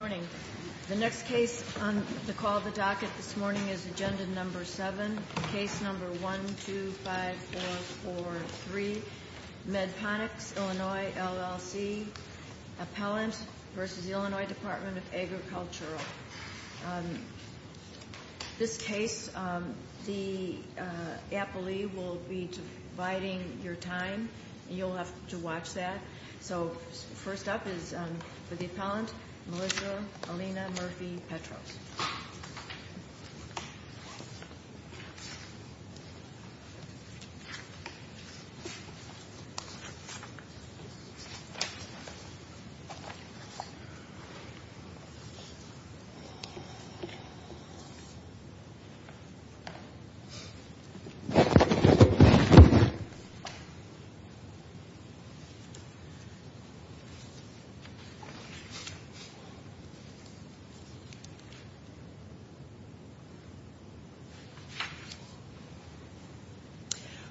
Good morning. The next case on the call of the docket this morning is Agenda Number 7, Case Number 1, 2, 5, 4, 4, 3, Medponics Illinois LLC, Appellant v. Illinois Department of Agriculture. This case, the appellee will be dividing your time. You'll have to watch that. So first up is the appellant, Melissa Alina Murphy-Petros.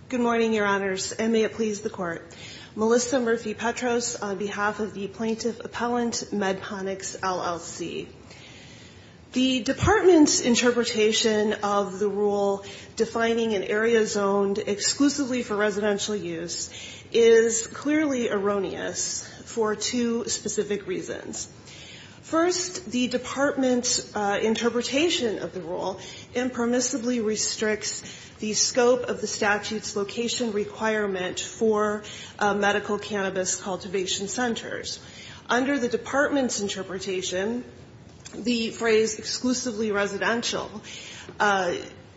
Good morning, Your Honors, and may it please the Court. Melissa Murphy-Petros on behalf of the Plaintiff Appellant, Medponics LLC. The department's interpretation of the rule defining an area zoned exclusively for residential use is clearly erroneous for two specific reasons. First, the department's interpretation of the rule impermissibly restricts the scope of the statute's location requirement for medical cannabis cultivation centers. Under the department's interpretation, the phrase exclusively residential,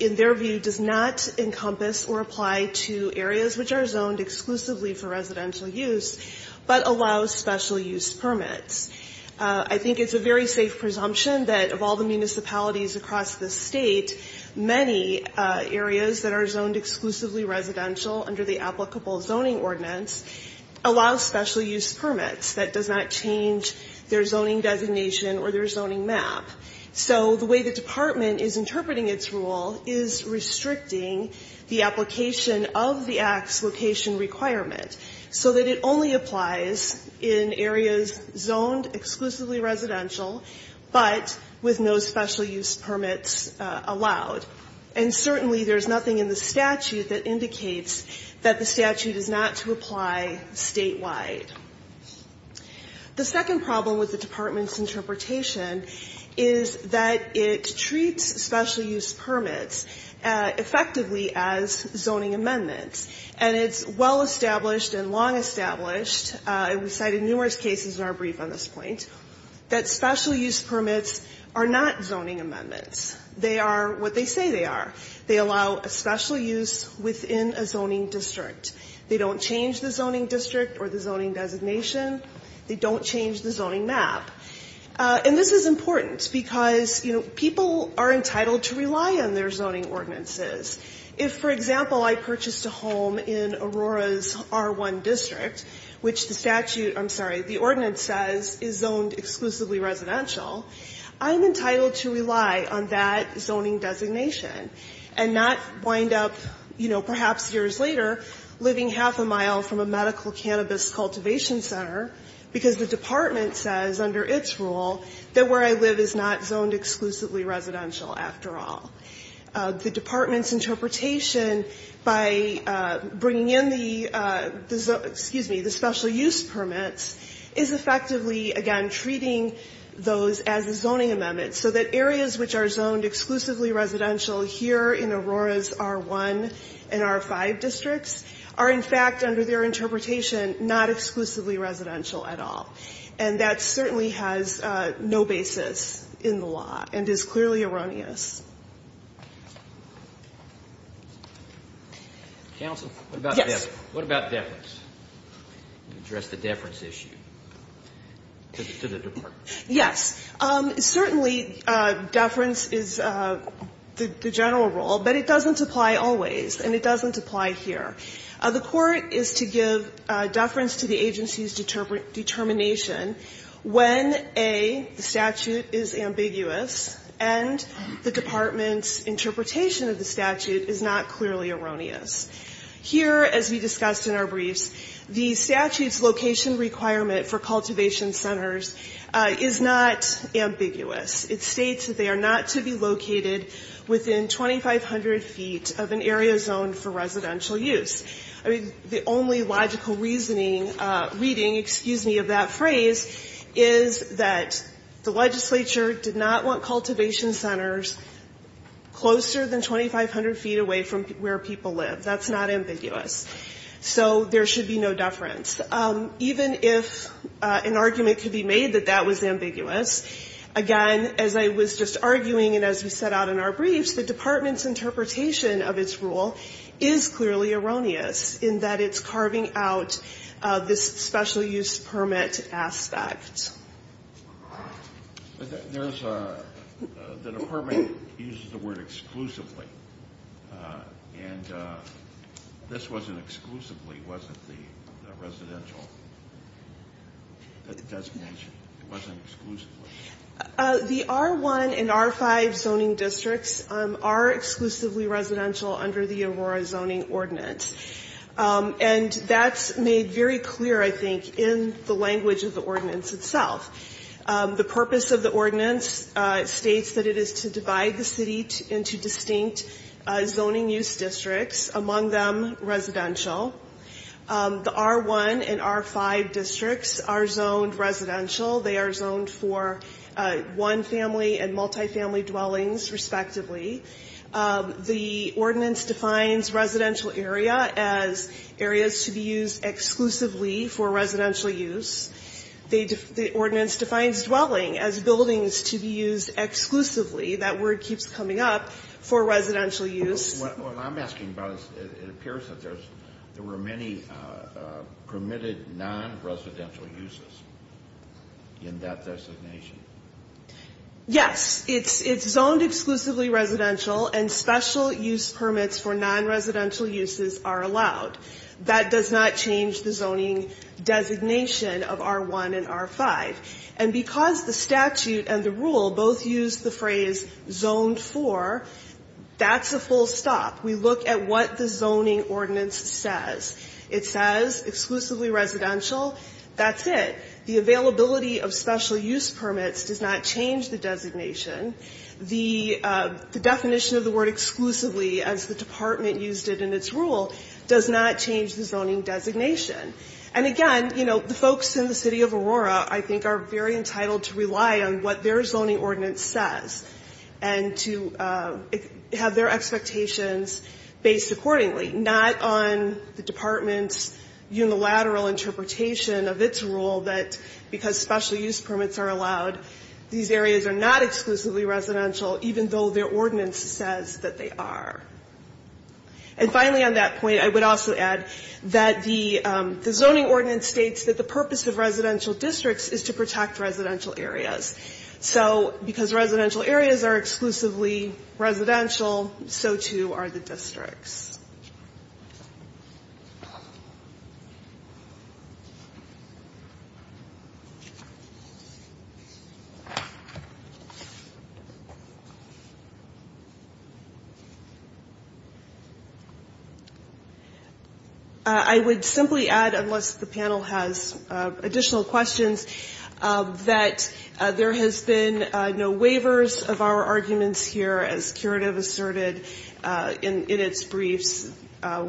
in their view, does not encompass or apply to areas which are zoned exclusively for residential use, but allows special use permits. I think it's a very safe presumption that of all the municipalities across the state, many areas that are zoned exclusively residential under the applicable zoning ordinance allow special use permits that does not change their zoning designation or their zoning map. So the way the department is interpreting its rule is restricting the application of the act's location requirement so that it only applies in areas zoned exclusively residential, but with no special use permits allowed. And certainly there's nothing in the statute that indicates that the statute is not to apply statewide. The second problem with the department's interpretation is that it treats special use permits effectively as zoning amendments. And it's well established and long established, and we cited numerous cases in our brief on this point, that special use permits are not zoning amendments. They are what they say they are. They allow special use within a zoning district. They don't change the zoning district or the zoning designation. They don't change the zoning map. And this is important because, you know, people are entitled to rely on their zoning ordinances. If, for example, I purchased a home in Aurora's R1 district, which the statute – I'm sorry, the ordinance says is zoned exclusively residential, I'm entitled to rely on that zoning designation and not wind up, you know, perhaps years later, living half a mile from a medical cannabis cultivation center because the department says under its rule that where I live is not zoned exclusively residential after all. The department's interpretation by bringing in the – excuse me – the special use permits is effectively, again, treating those as a zoning amendment, so that areas which are zoned exclusively residential here in Aurora's R1 and R5 districts are, in fact, under their interpretation, not exclusively residential at all. And that certainly has no basis in the law and is clearly erroneous. Roberts. Counsel? Yes. What about deference? Address the deference issue to the department. Yes. Certainly, deference is the general rule, but it doesn't apply always, and it doesn't apply here. The court is to give deference to the agency's determination when, A, the statute is ambiguous and the department's interpretation of the statute is not clearly erroneous. Here, as we discussed in our briefs, the statute's location requirement for cultivation centers is not ambiguous. It states that they are not to be located within 2,500 feet of an area zoned for residential use. I mean, the only logical reasoning – reading, excuse me – of that phrase is that the legislature did not want cultivation centers closer than 2,500 feet away from where people live. That's not ambiguous. So there should be no deference. Even if an argument could be made that that was ambiguous, again, as I was just arguing and as we set out in our briefs, the department's interpretation of its rule is clearly erroneous in that it's carving out this special use permit aspect. There's a – the department uses the word exclusively, and this wasn't exclusively. It wasn't the residential designation. It wasn't exclusively. The R1 and R5 zoning districts are exclusively residential under the Aurora Zoning Ordinance, and that's made very clear, I think, in the language of the ordinance itself. The purpose of the ordinance states that it is to divide the city into distinct zoning use districts, among them residential. The R1 and R5 districts are zoned residential. They are zoned for one-family and multifamily dwellings, respectively. The ordinance defines residential area as areas to be used exclusively for residential use. The ordinance defines dwelling as buildings to be used exclusively – that word keeps coming up – for residential use. What I'm asking about is it appears that there were many permitted non-residential uses in that designation. Yes, it's zoned exclusively residential, and special use permits for non-residential uses are allowed. That does not change the zoning designation of R1 and R5. And because the statute and the rule both use the phrase zoned for, that's a full stop. We look at what the zoning ordinance says. It says exclusively residential. That's it. The availability of special use permits does not change the designation. The definition of the word exclusively, as the department used it in its rule, does not change the zoning designation. And again, you know, the folks in the city of Aurora, I think, are very entitled to rely on what their zoning ordinance says and to have their expectations based accordingly, not on the department's unilateral interpretation of its rule that because special use permits are allowed, these areas are not exclusively residential, even though their ordinance says that they are. And finally on that point, I would also add that the zoning ordinance states that the purpose of residential districts is to protect residential areas. So because residential areas are exclusively residential, so too are the districts. I would simply add, unless the panel has additional questions, that there has been no waivers of our arguments here, as curative asserted in its briefs.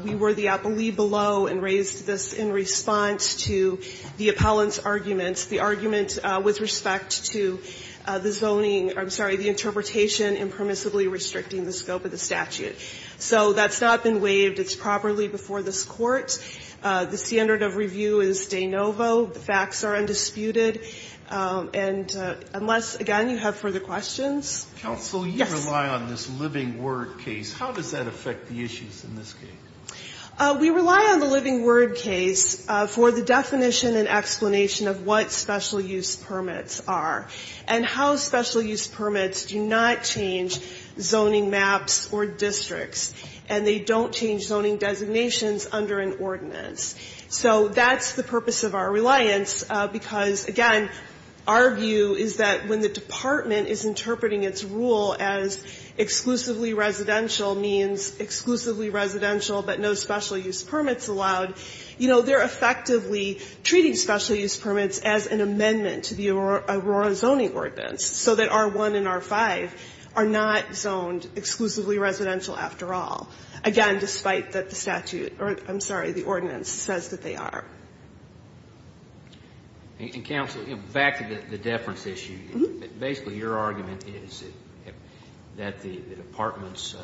We were the appellee below and raised this in response to the appellant's arguments, the argument with respect to the zoning, I'm sorry, the interpretation impermissibly restricting the scope of the statute. So that's not been waived. It's properly before this Court. The standard of review is de novo. The facts are undisputed. And unless, again, you have further questions. Counsel, you rely on this living word case. How does that affect the issues in this case? We rely on the living word case for the definition and explanation of what special use permits are and how special use permits do not change zoning maps or districts. And they don't change zoning designations under an ordinance. So that's the purpose of our reliance, because, again, our view is that when the department is interpreting its rule as exclusively residential means exclusively residential but no special use permits allowed, you know, they're effectively treating special use permits as an amendment to the Aurora Zoning Ordinance so that R1 and R5 are not zoned exclusively residential after all. Again, despite that the statute or, I'm sorry, the ordinance says that they are. And, Counsel, back to the deference issue. Basically, your argument is that the department's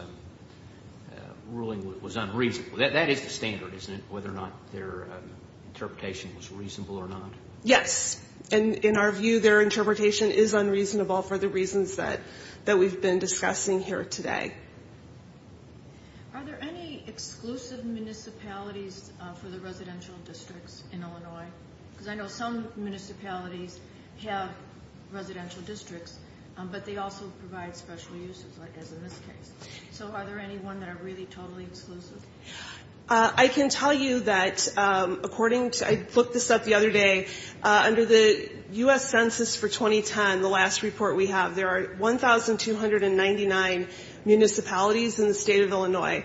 ruling was unreasonable. That is the standard, isn't it, whether or not their interpretation was reasonable or not? Yes. And in our view, their interpretation is unreasonable for the reasons that we've been discussing here today. Are there any exclusive municipalities for the residential districts in Illinois? Because I know some municipalities have residential districts, but they also provide special uses, like as in this case. So are there any ones that are really totally exclusive? I can tell you that, according to, I looked this up the other day, under the U.S. Census for 2010, the last report we have, there are 1,299 municipalities in the state of Illinois.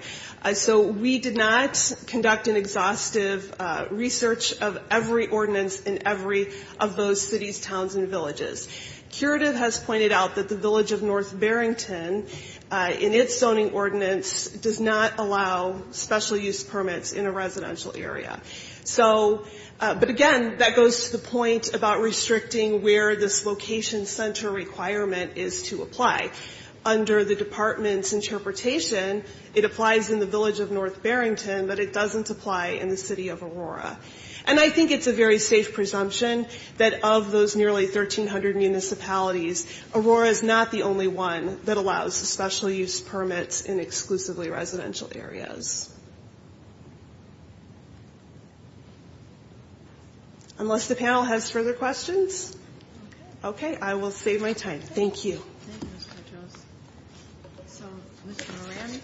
So we did not conduct an exhaustive research of every ordinance in every of those cities, towns, and villages. Curative has pointed out that the village of North Barrington, in its zoning ordinance, does not allow special use permits in a residential area. So, but again, that goes to the point about restricting where this location center requirement is to apply. Under the department's interpretation, it applies in the village of North Barrington, but it doesn't apply in the city of Aurora. And I think it's a very safe presumption that of those nearly 1,300 municipalities, Aurora is not the only one that allows special use permits in exclusively residential areas. Unless the panel has further questions? Okay, I will save my time. Thank you. Thank you, Mr. Petros. So, Mr. Moran.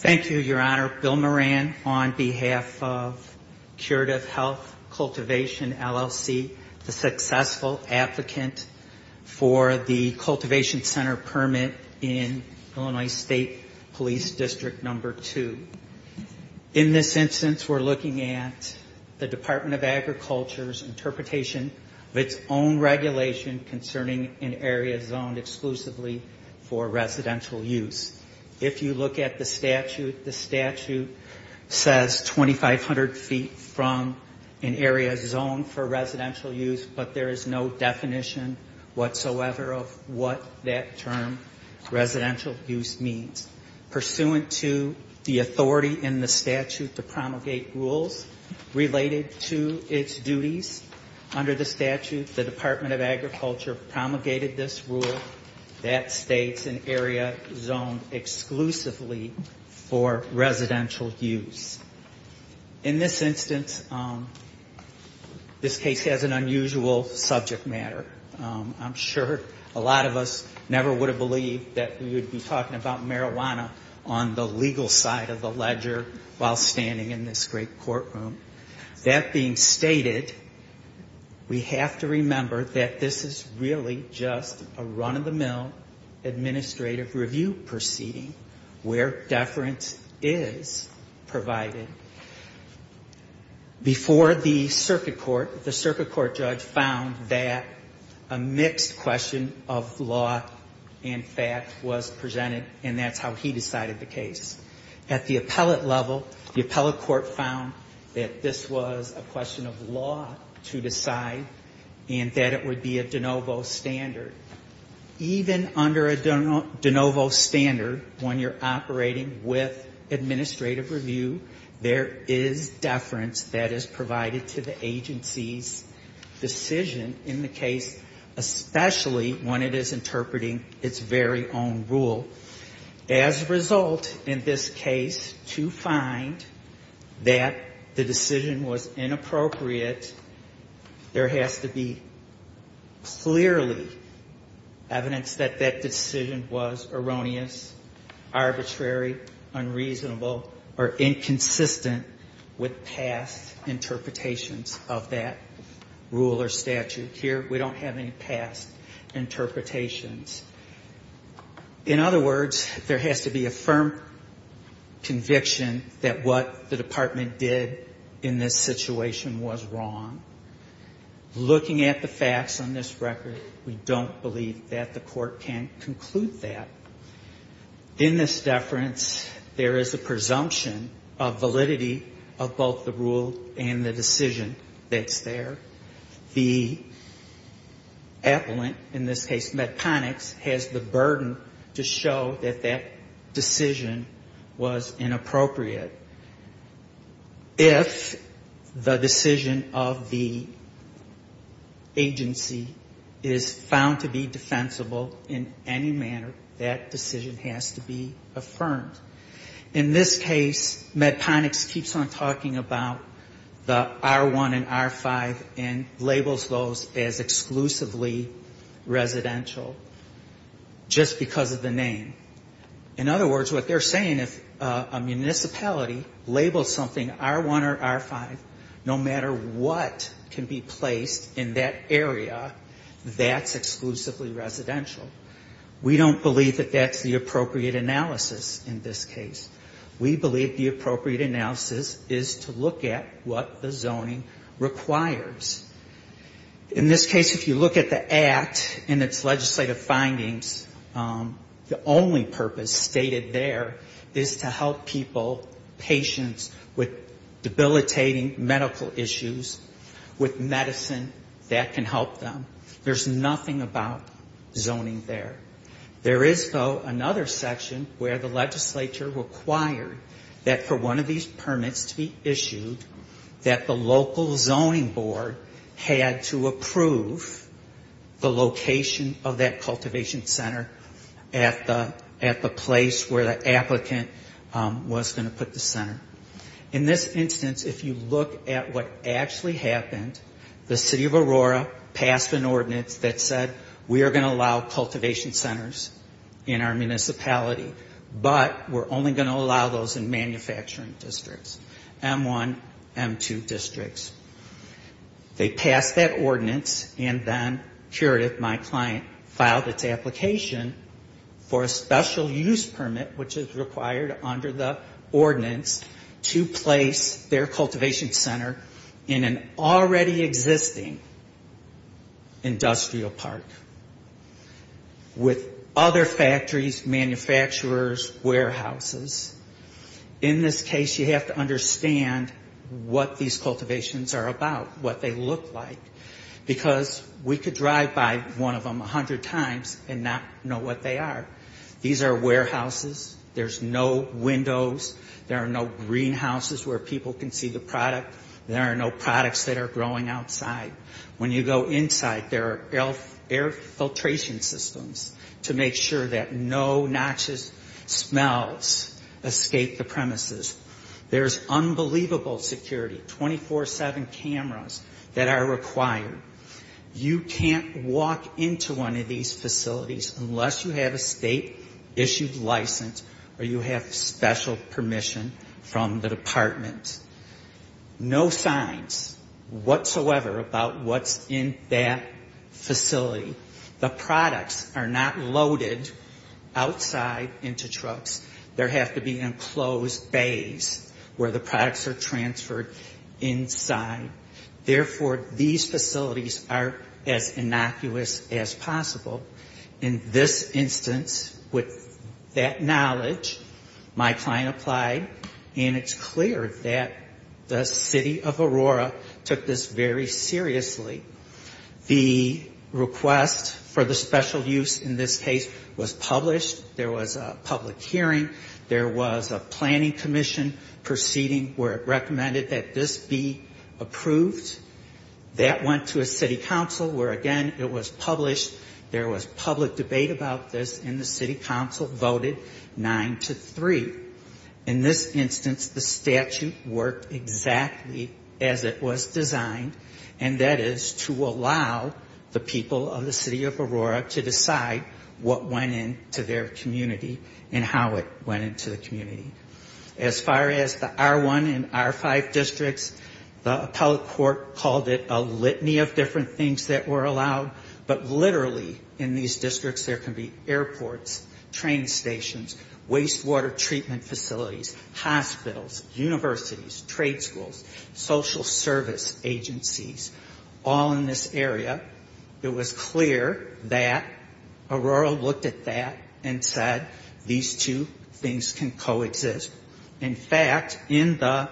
Thank you, Your Honor. Bill Moran on behalf of Curative Health Cultivation, LLC, the successful applicant for the cultivation center permit in Illinois State Police District Number 2. In this instance, we're looking at the Department of Agriculture's interpretation of its own regulation concerning an area zoned exclusively for residential use. If you look at the statute, the statute says 2,500 feet from an area zoned for residential use, but there is no definition whatsoever of what that term residential use means. Pursuant to the authority in the statute to promulgate rules related to its duties, under the statute, the Department of Agriculture promulgated this rule that states an area zoned exclusively for residential use. In this instance, this case has an unusual subject matter. I'm sure a lot of us never would have believed that we would be talking about marijuana on the legal side of the ledger while standing in this great courtroom. That being stated, we have to remember that this is really just a run-of-the-mill administrative review proceeding where deference is provided. Before the circuit court, the circuit court judge found that a mixed question of law and fact was presented, and that's how he decided the case. At the appellate level, the appellate court found that this was a question of law to decide, and that it would be a de novo standard. Even under a de novo standard, when you're operating with administrative review, there is deference that is provided to the agency's decision in the case, especially when it is interpreting its very own rule. As a result, in this case, to find that the decision was inappropriate, there has to be clearly evidence that that decision was erroneous, arbitrary, unreasonable, or inconsistent with past interpretations of that rule or statute. Here, we don't have any past interpretations. In other words, there has to be a firm conviction that what the department did in this situation was wrong. Looking at the facts on this record, we don't believe that the court can conclude that. In this deference, there is a presumption of validity of both the rule and the decision that's there. The appellant, in this case MedPonics, has the burden to show that that decision was inappropriate. If the decision of the agency is found to be defensible in any manner, that decision has to be affirmed. In this case, MedPonics keeps on talking about the R1 and R5 rules. And labels those as exclusively residential, just because of the name. In other words, what they're saying, if a municipality labels something R1 or R5, no matter what can be placed in that area, that's exclusively residential. We don't believe that that's the appropriate analysis in this case. We believe the appropriate analysis is to look at what the zoning requires. In this case, if you look at the Act and its legislative findings, the only purpose stated there is to help people, patients with debilitating medical issues, with medicine that can help them. There's nothing about zoning there. There is, though, another section where the legislature required that for one of these permits to be issued, that the local zoning board had to approve the location of that cultivation center at the place where the applicant was going to put the center. In this instance, if you look at what actually happened, the City of Aurora passed an ordinance that said, we are going to allow cultivation centers in our municipality, but we're only going to allow those in manufacturing districts, M1, M2 districts. They passed that ordinance, and then Curative, my client, filed its application for a special use permit, which is required under the ordinance, to place their cultivation center in an already existing industrial park. With other factories, manufacturers, warehouses, in this case, you have to understand what these cultivations are about, what they look like, because we could drive by one of them a hundred times and not know what they are. These are warehouses. There's no windows. There are no greenhouses where people can see the product. There are no air filtration systems to make sure that no noxious smells escape the premises. There's unbelievable security, 24-7 cameras that are required. You can't walk into one of these facilities unless you have a state-issued license or you have special permission from the department. No signs whatsoever about what's in that facility. The products are not loaded outside into trucks. There have to be enclosed bays where the products are transferred inside. Therefore, these facilities are as innocuous as possible. In this instance, with that knowledge, my client applied, and it's clear that the city of Aurora took this very seriously. The request for the special use in this case was published. There was a public hearing. There was a planning commission proceeding where it recommended that this be approved. That went to a city council where, again, it was published. There was public debate about this, and the city council voted 9-3. In this instance, the statute worked exactly as it was designed, and that is to make sure that the product is approved, which is to allow the people of the city of Aurora to decide what went into their community and how it went into the community. As far as the R1 and R5 districts, the appellate court called it a litany of different things that were allowed, but literally in these districts there can be airports, train stations, wastewater treatment facilities, hospitals, universities, trade schools, social service agencies, all in this area. It was clear that Aurora looked at that and said, these two things can coexist. In fact, in the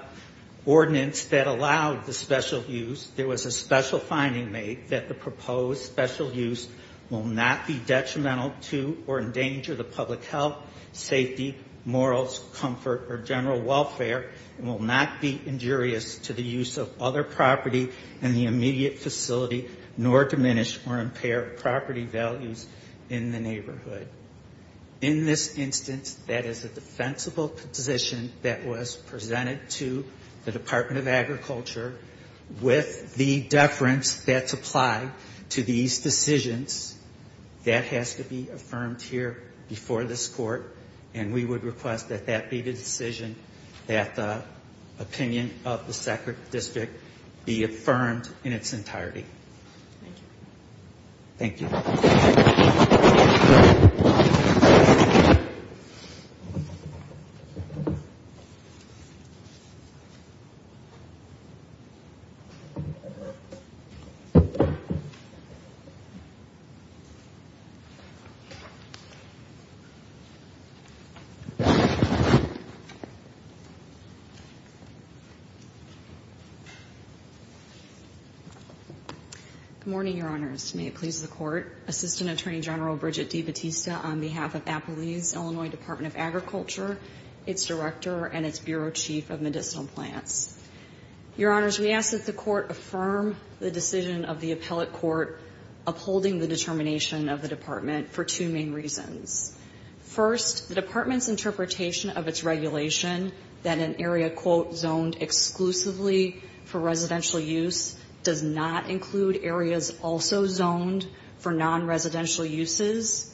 ordinance that allowed the special use, there was a special finding made that the proposed special use will not be detrimental to or endanger the public health, safety, morals, comfort, or general welfare, and will not be injurious to the public health, safety, morals, comfort, or general welfare, and will not be injurious to the use of other property in the immediate facility, nor diminish or impair property values in the neighborhood. In this instance, that is a defensible position that was presented to the Department of Agriculture with the deference that's applied to these decisions. That has to be affirmed here before this court, and we would request that that be the decision that the district be affirmed in its entirety. Good morning, Your Honors. May it please the Court. Assistant Attorney General Bridget D. Batista, on behalf of Appalachia's Illinois Department of Agriculture, its Director, and its Bureau Chief of Medicinal Plants. Your Honors, we ask that the Court affirm the decision of the appellate court upholding the determination of the Department for two main reasons. First, the Department's interpretation of its regulation that an area, quote, zoned exclusively for medical use, does not include areas also zoned for non-residential uses,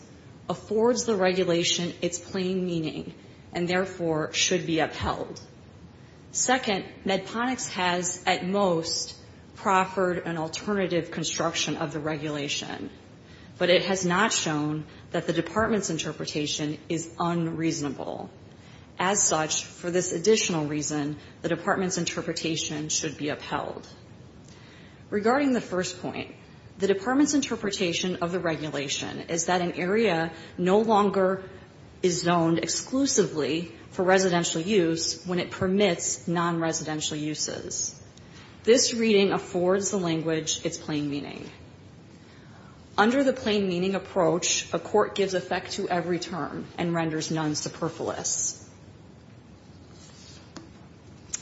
affords the regulation its plain meaning, and therefore should be upheld. Second, MedPonics has, at most, proffered an alternative construction of the regulation, but it has not shown that the Department's interpretation is unreasonable. As such, for this additional reason, the Department's interpretation is that an area no longer is zoned exclusively for residential use when it permits non-residential uses. This reading affords the language its plain meaning. Under the plain meaning approach, a court gives effect to every term and renders none superfluous.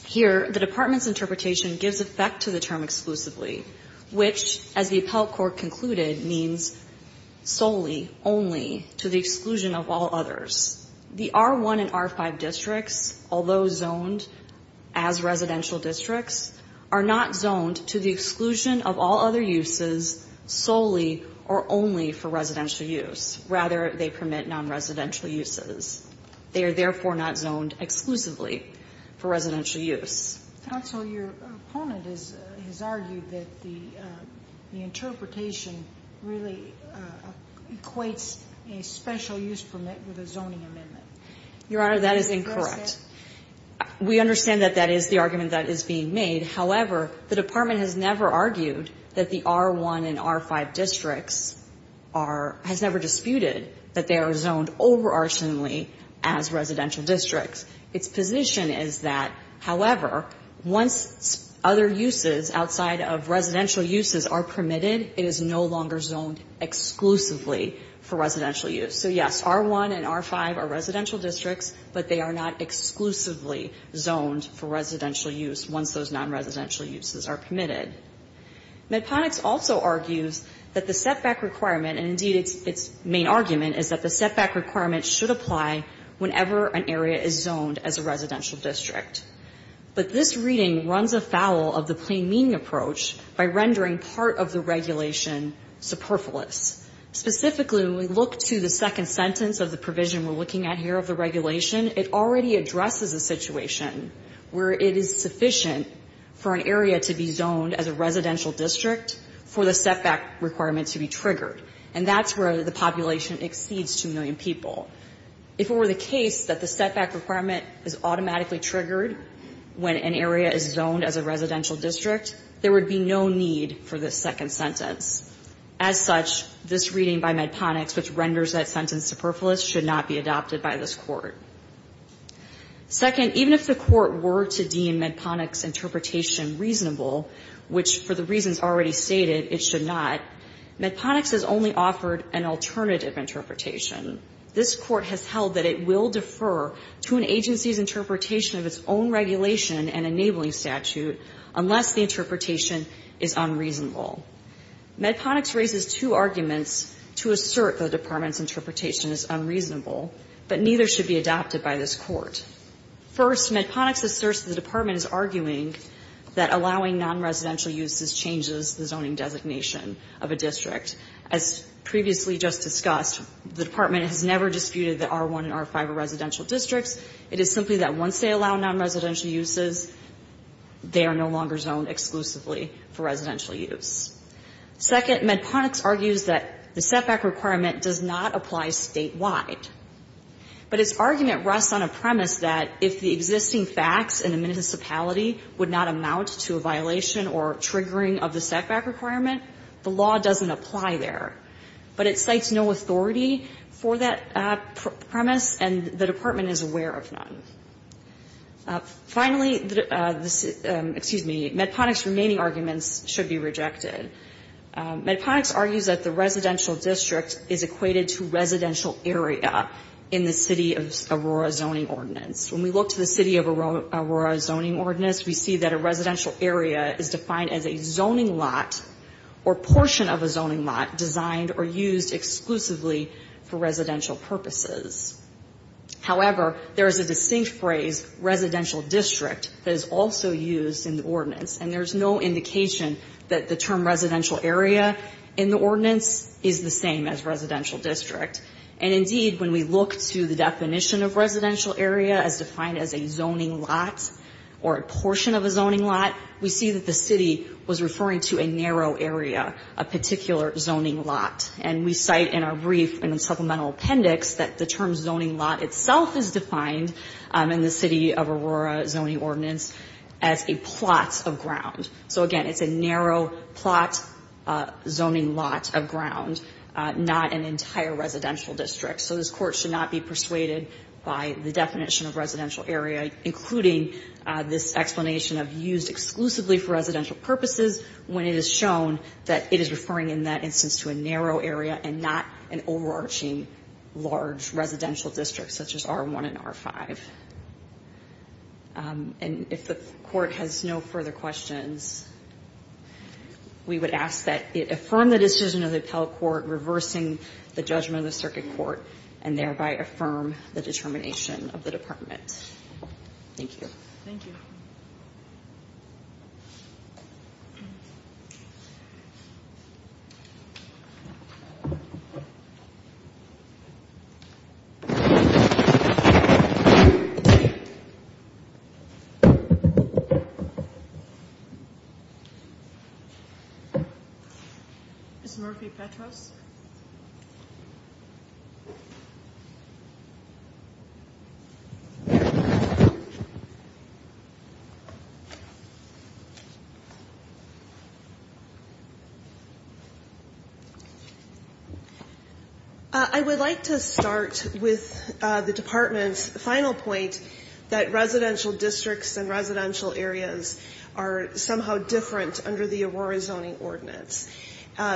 Here, the Department's interpretation gives effect to the term exclusively, which, as the appellate court concluded, means solely, only, to the exclusion of all others. The R1 and R5 districts, although zoned as residential districts, are not zoned to the exclusion of all other uses solely or only for residential use. Rather, they permit non-residential uses. They are, therefore, not zoned exclusively for residential use. Sotomayor, your opponent has argued that the interpretation really equates a special use permit with a zoning amendment. Your Honor, that is incorrect. We understand that that is the argument that is being made. However, the Department has never argued that the R1 and R5 districts are, has never disputed that they are zoned over-arsenally as residential districts. Its position is that, however, once other uses outside of residential uses are permitted, it is no longer zoned exclusively for residential use. So, yes, R1 and R5 are residential districts, but they are not exclusively zoned for residential use once those non-residential uses are permitted. Medponex also argues that the setback requirement, and indeed its main argument, is that the setback requirement should apply whenever an area is zoned as a residential district. But this reading runs afoul of the plain meaning approach by rendering part of the regulation superfluous. Specifically, when we look to the second sentence of the provision we're looking at here of the regulation, it already addresses a situation where it is sufficient for an area to be zoned as a residential district for the setback requirement to be triggered. And that's where the population exceeds 2 million people. In the case that the setback requirement is automatically triggered when an area is zoned as a residential district, there would be no need for this second sentence. As such, this reading by Medponex, which renders that sentence superfluous, should not be adopted by this Court. Second, even if the Court were to deem Medponex's interpretation reasonable, which, for the reasons already stated, it should not, Medponex has only offered an alternative interpretation. Medponex will defer to an agency's interpretation of its own regulation and enabling statute unless the interpretation is unreasonable. Medponex raises two arguments to assert the Department's interpretation is unreasonable, but neither should be adopted by this Court. First, Medponex asserts the Department is arguing that allowing non-residential uses changes the zoning designation of a district. As previously just discussed, the Department has never disputed that R1 and R5 are residential. It is simply that once they allow non-residential uses, they are no longer zoned exclusively for residential use. Second, Medponex argues that the setback requirement does not apply statewide. But its argument rests on a premise that if the existing facts in the municipality would not amount to a violation or triggering of the setback requirement, the law doesn't apply there. But it cites no authority for that premise, and the Department's interpretation is unreasonable. The Department is aware of none. Finally, excuse me, Medponex's remaining arguments should be rejected. Medponex argues that the residential district is equated to residential area in the City of Aurora Zoning Ordinance. When we look to the City of Aurora Zoning Ordinance, we see that a residential area is defined as a zoning lot or portion of a zoning lot designed or used exclusively for residential purposes. However, there is a distinct phrase, residential district, that is also used in the ordinance. And there's no indication that the term residential area in the ordinance is the same as residential district. And indeed, when we look to the definition of residential area as defined as a zoning lot or a portion of a zoning lot, we see that the City was referring to a narrow area, a particular zoning lot. And we cite in our brief in the supplemental appendix that the term zoning lot itself is a zoning lot. And it itself is defined in the City of Aurora Zoning Ordinance as a plot of ground. So again, it's a narrow plot zoning lot of ground, not an entire residential district. So this Court should not be persuaded by the definition of residential area, including this explanation of used exclusively for residential purposes, when it is shown that it is referring in that instance to a narrow area and not an overarching large residential district such as R1 and R5. And if the Court has no further questions, we would ask that it affirm the decision of the Appellate Court reversing the judgment of the Circuit Court, and thereby affirm the determination of the Department. Thank you. I would like to start with the Department's final point that residential districts and residential areas are somehow different under the Aurora Zoning Ordinance.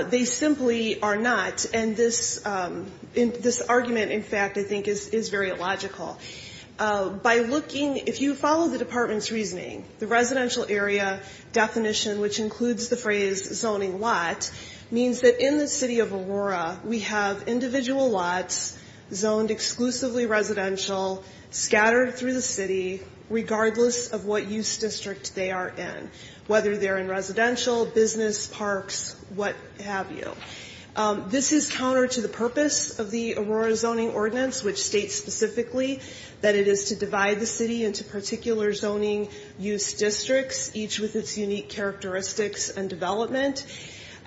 They simply are not. And this argument, in fact, I think is very illogical. By looking, if you follow the Department's reasoning, the residential area definition, which includes the phrase zoning lot, means that in the Aurora, we have individual lots zoned exclusively residential, scattered through the city, regardless of what use district they are in, whether they're in residential, business, parks, what have you. This is counter to the purpose of the Aurora Zoning Ordinance, which states specifically that it is to divide the city into particular zoning use districts, each with its unique characteristics and development.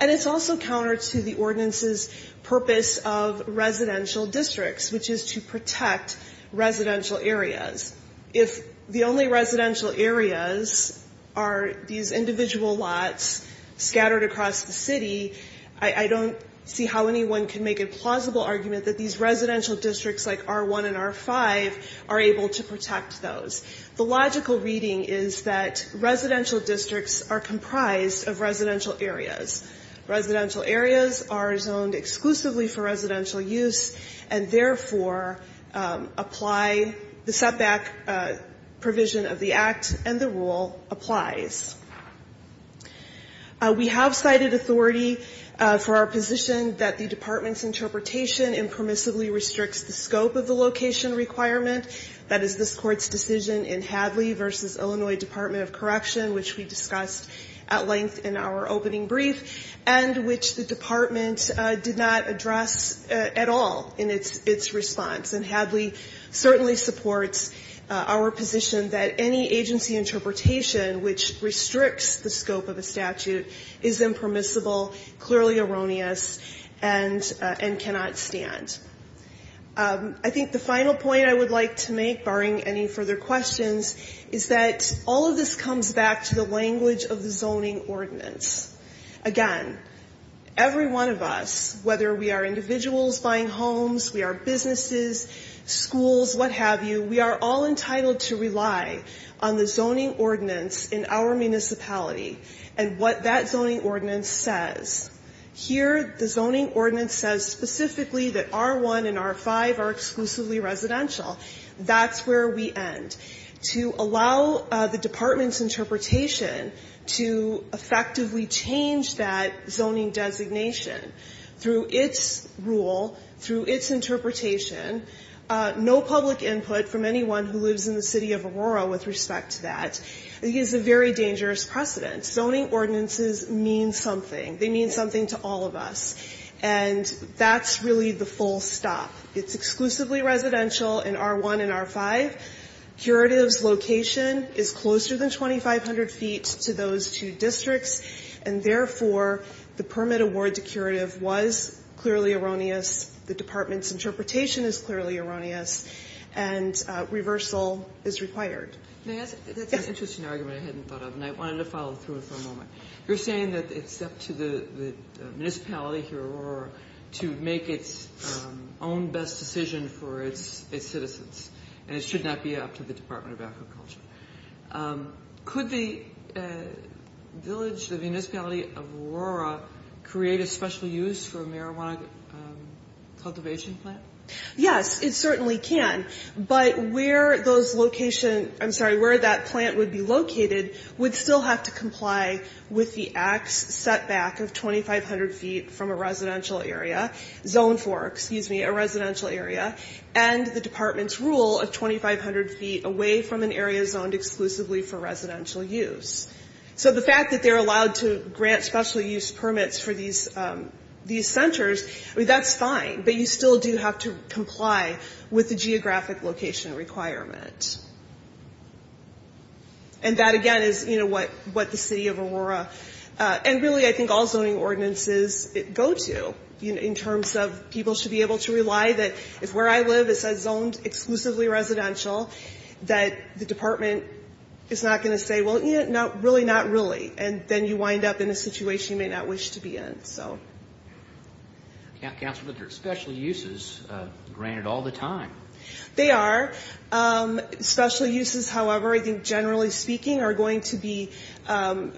And it's also counter to the Ordinance's purpose of residential districts, which is to protect residential areas. If the only residential areas are these individual lots scattered across the city, I don't see how anyone can make a plausible argument that these residential districts like R1 and R5 are able to protect those. The logical reading is that residential districts are comprised of residential areas. Residential areas are zoned exclusively for residential use, and therefore apply the setback provision of the Act, and the rule applies. We have cited authority for our position that the Department's interpretation impermissibly restricts the scope of the location requirement. That is this Court's decision in Hadley v. Illinois Department of Correction, which we discussed at length in our opening brief, and which the Department did not address at all in its response. And Hadley certainly supports our position that any agency interpretation which restricts the scope of a statute is impermissible, clearly erroneous, and cannot stand. I think the final point I would like to make, barring any further questions, is that all of this comes back to the language of the Zoning Ordinance. Again, every one of us, whether we are individuals buying homes, we are businesses, schools, what have you, we are all entitled to rely on the Zoning Ordinance in our municipality and what that Zoning Ordinance says. Here, the Zoning Ordinance says specifically that R1 and R5 are exclusively residential. That's where we end. To allow the Department's interpretation to effectively change that zoning designation through its rule, through its interpretation, no public input from anyone who lives in the City of Aurora with respect to that, is a very dangerous precedent. Zoning Ordinances mean something. They mean something to all of us. And that's really the full stop. It's exclusively residential in R1 and R5. Curative's location is closer than 2,500 feet to those two districts, and therefore the permit award to curative was clearly erroneous, the Department's interpretation is clearly erroneous, and reversal is required. That's an interesting argument I hadn't thought of, and I wanted to follow through for a moment. You're saying that it's up to the municipality here, Aurora, to make its own best decision for its citizens, and it should not be up to the Department of Agriculture. Could the village, the municipality of Aurora, create a special use for a marijuana cultivation plant? Yes, it certainly can. But where those locations, I'm sorry, where that plant would be located would still have to comply with the Act's setback of 2,500 feet from a residential area, zone for, excuse me, a residential area, and the Department's rule of 2,500 feet away from an area zoned exclusively for residential use. So the fact that they're allowed to grant special use permits for these centers, I mean, that's fine, but you still do have to comply with the geographic location requirement. And that again is, you know, what the city of Aurora, and really I think all zoning ordinances go to in terms of people should be able to rely that if where I live it says zoned exclusively residential, that the department is not going to say, well, you know, not really, not wish to be in, so. Councilman, but they're special uses granted all the time. They are. Special uses, however, I think generally speaking, are going to be,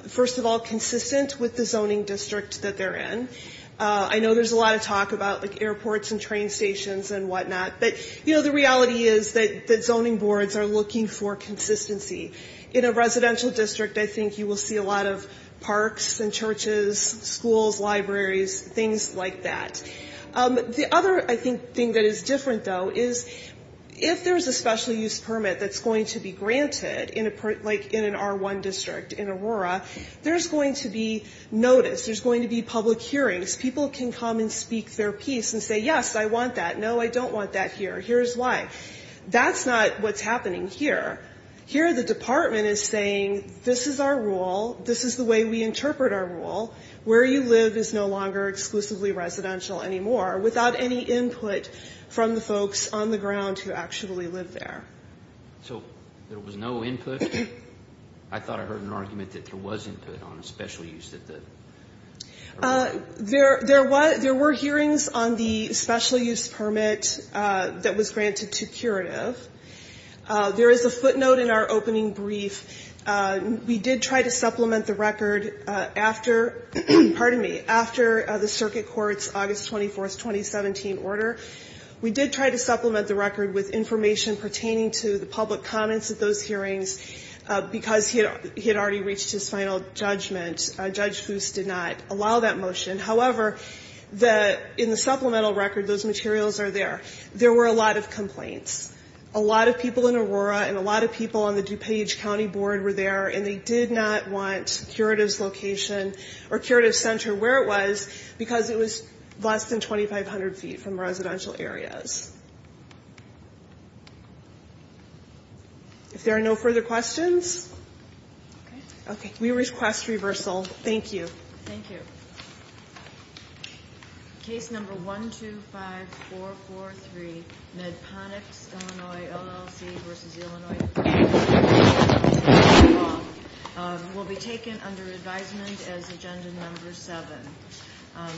first of all, consistent with the zoning district that they're in. I know there's a lot of talk about like airports and train stations and whatnot, but, you know, the reality is that zoning boards are looking for consistency. In a residential district, I think you will see a lot of parks and churches, schools, and so on, and so forth. Schools, libraries, things like that. The other, I think, thing that is different, though, is if there's a special use permit that's going to be granted, like in an R1 district in Aurora, there's going to be notice. There's going to be public hearings. People can come and speak their piece and say, yes, I want that. No, I don't want that here. Here's why. That's not what's happening here. Here the department is saying, this is our rule, this is the way we operate, and where you live is no longer exclusively residential anymore without any input from the folks on the ground who actually live there. So there was no input? I thought I heard an argument that there was input on a special use. There were hearings on the special use permit that was granted to curative. There is a footnote in our opening brief. We did try to supplement the record with information pertaining to the public comments at those hearings because he had already reached his final judgment. Judge Goose did not allow that motion. However, in the supplemental record, those materials are there. There were a lot of complaints. A lot of people in Aurora and a lot of people on the DuPage County Board were there, and they did not want curative's location or curative center where it was because it was less than 2,500 feet from residential areas. If there are no further questions, we request reversal. Thank you. Thank you. Case number 125443, Medponics, Illinois LLC v. Illinois, will be taken under advisement as agenda number seven.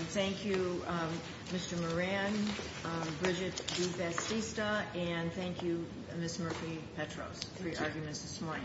Thank you, Mr. Moran, Bridget DuFastista, and thank you, Ms. Murphy-Petros for your arguments this morning.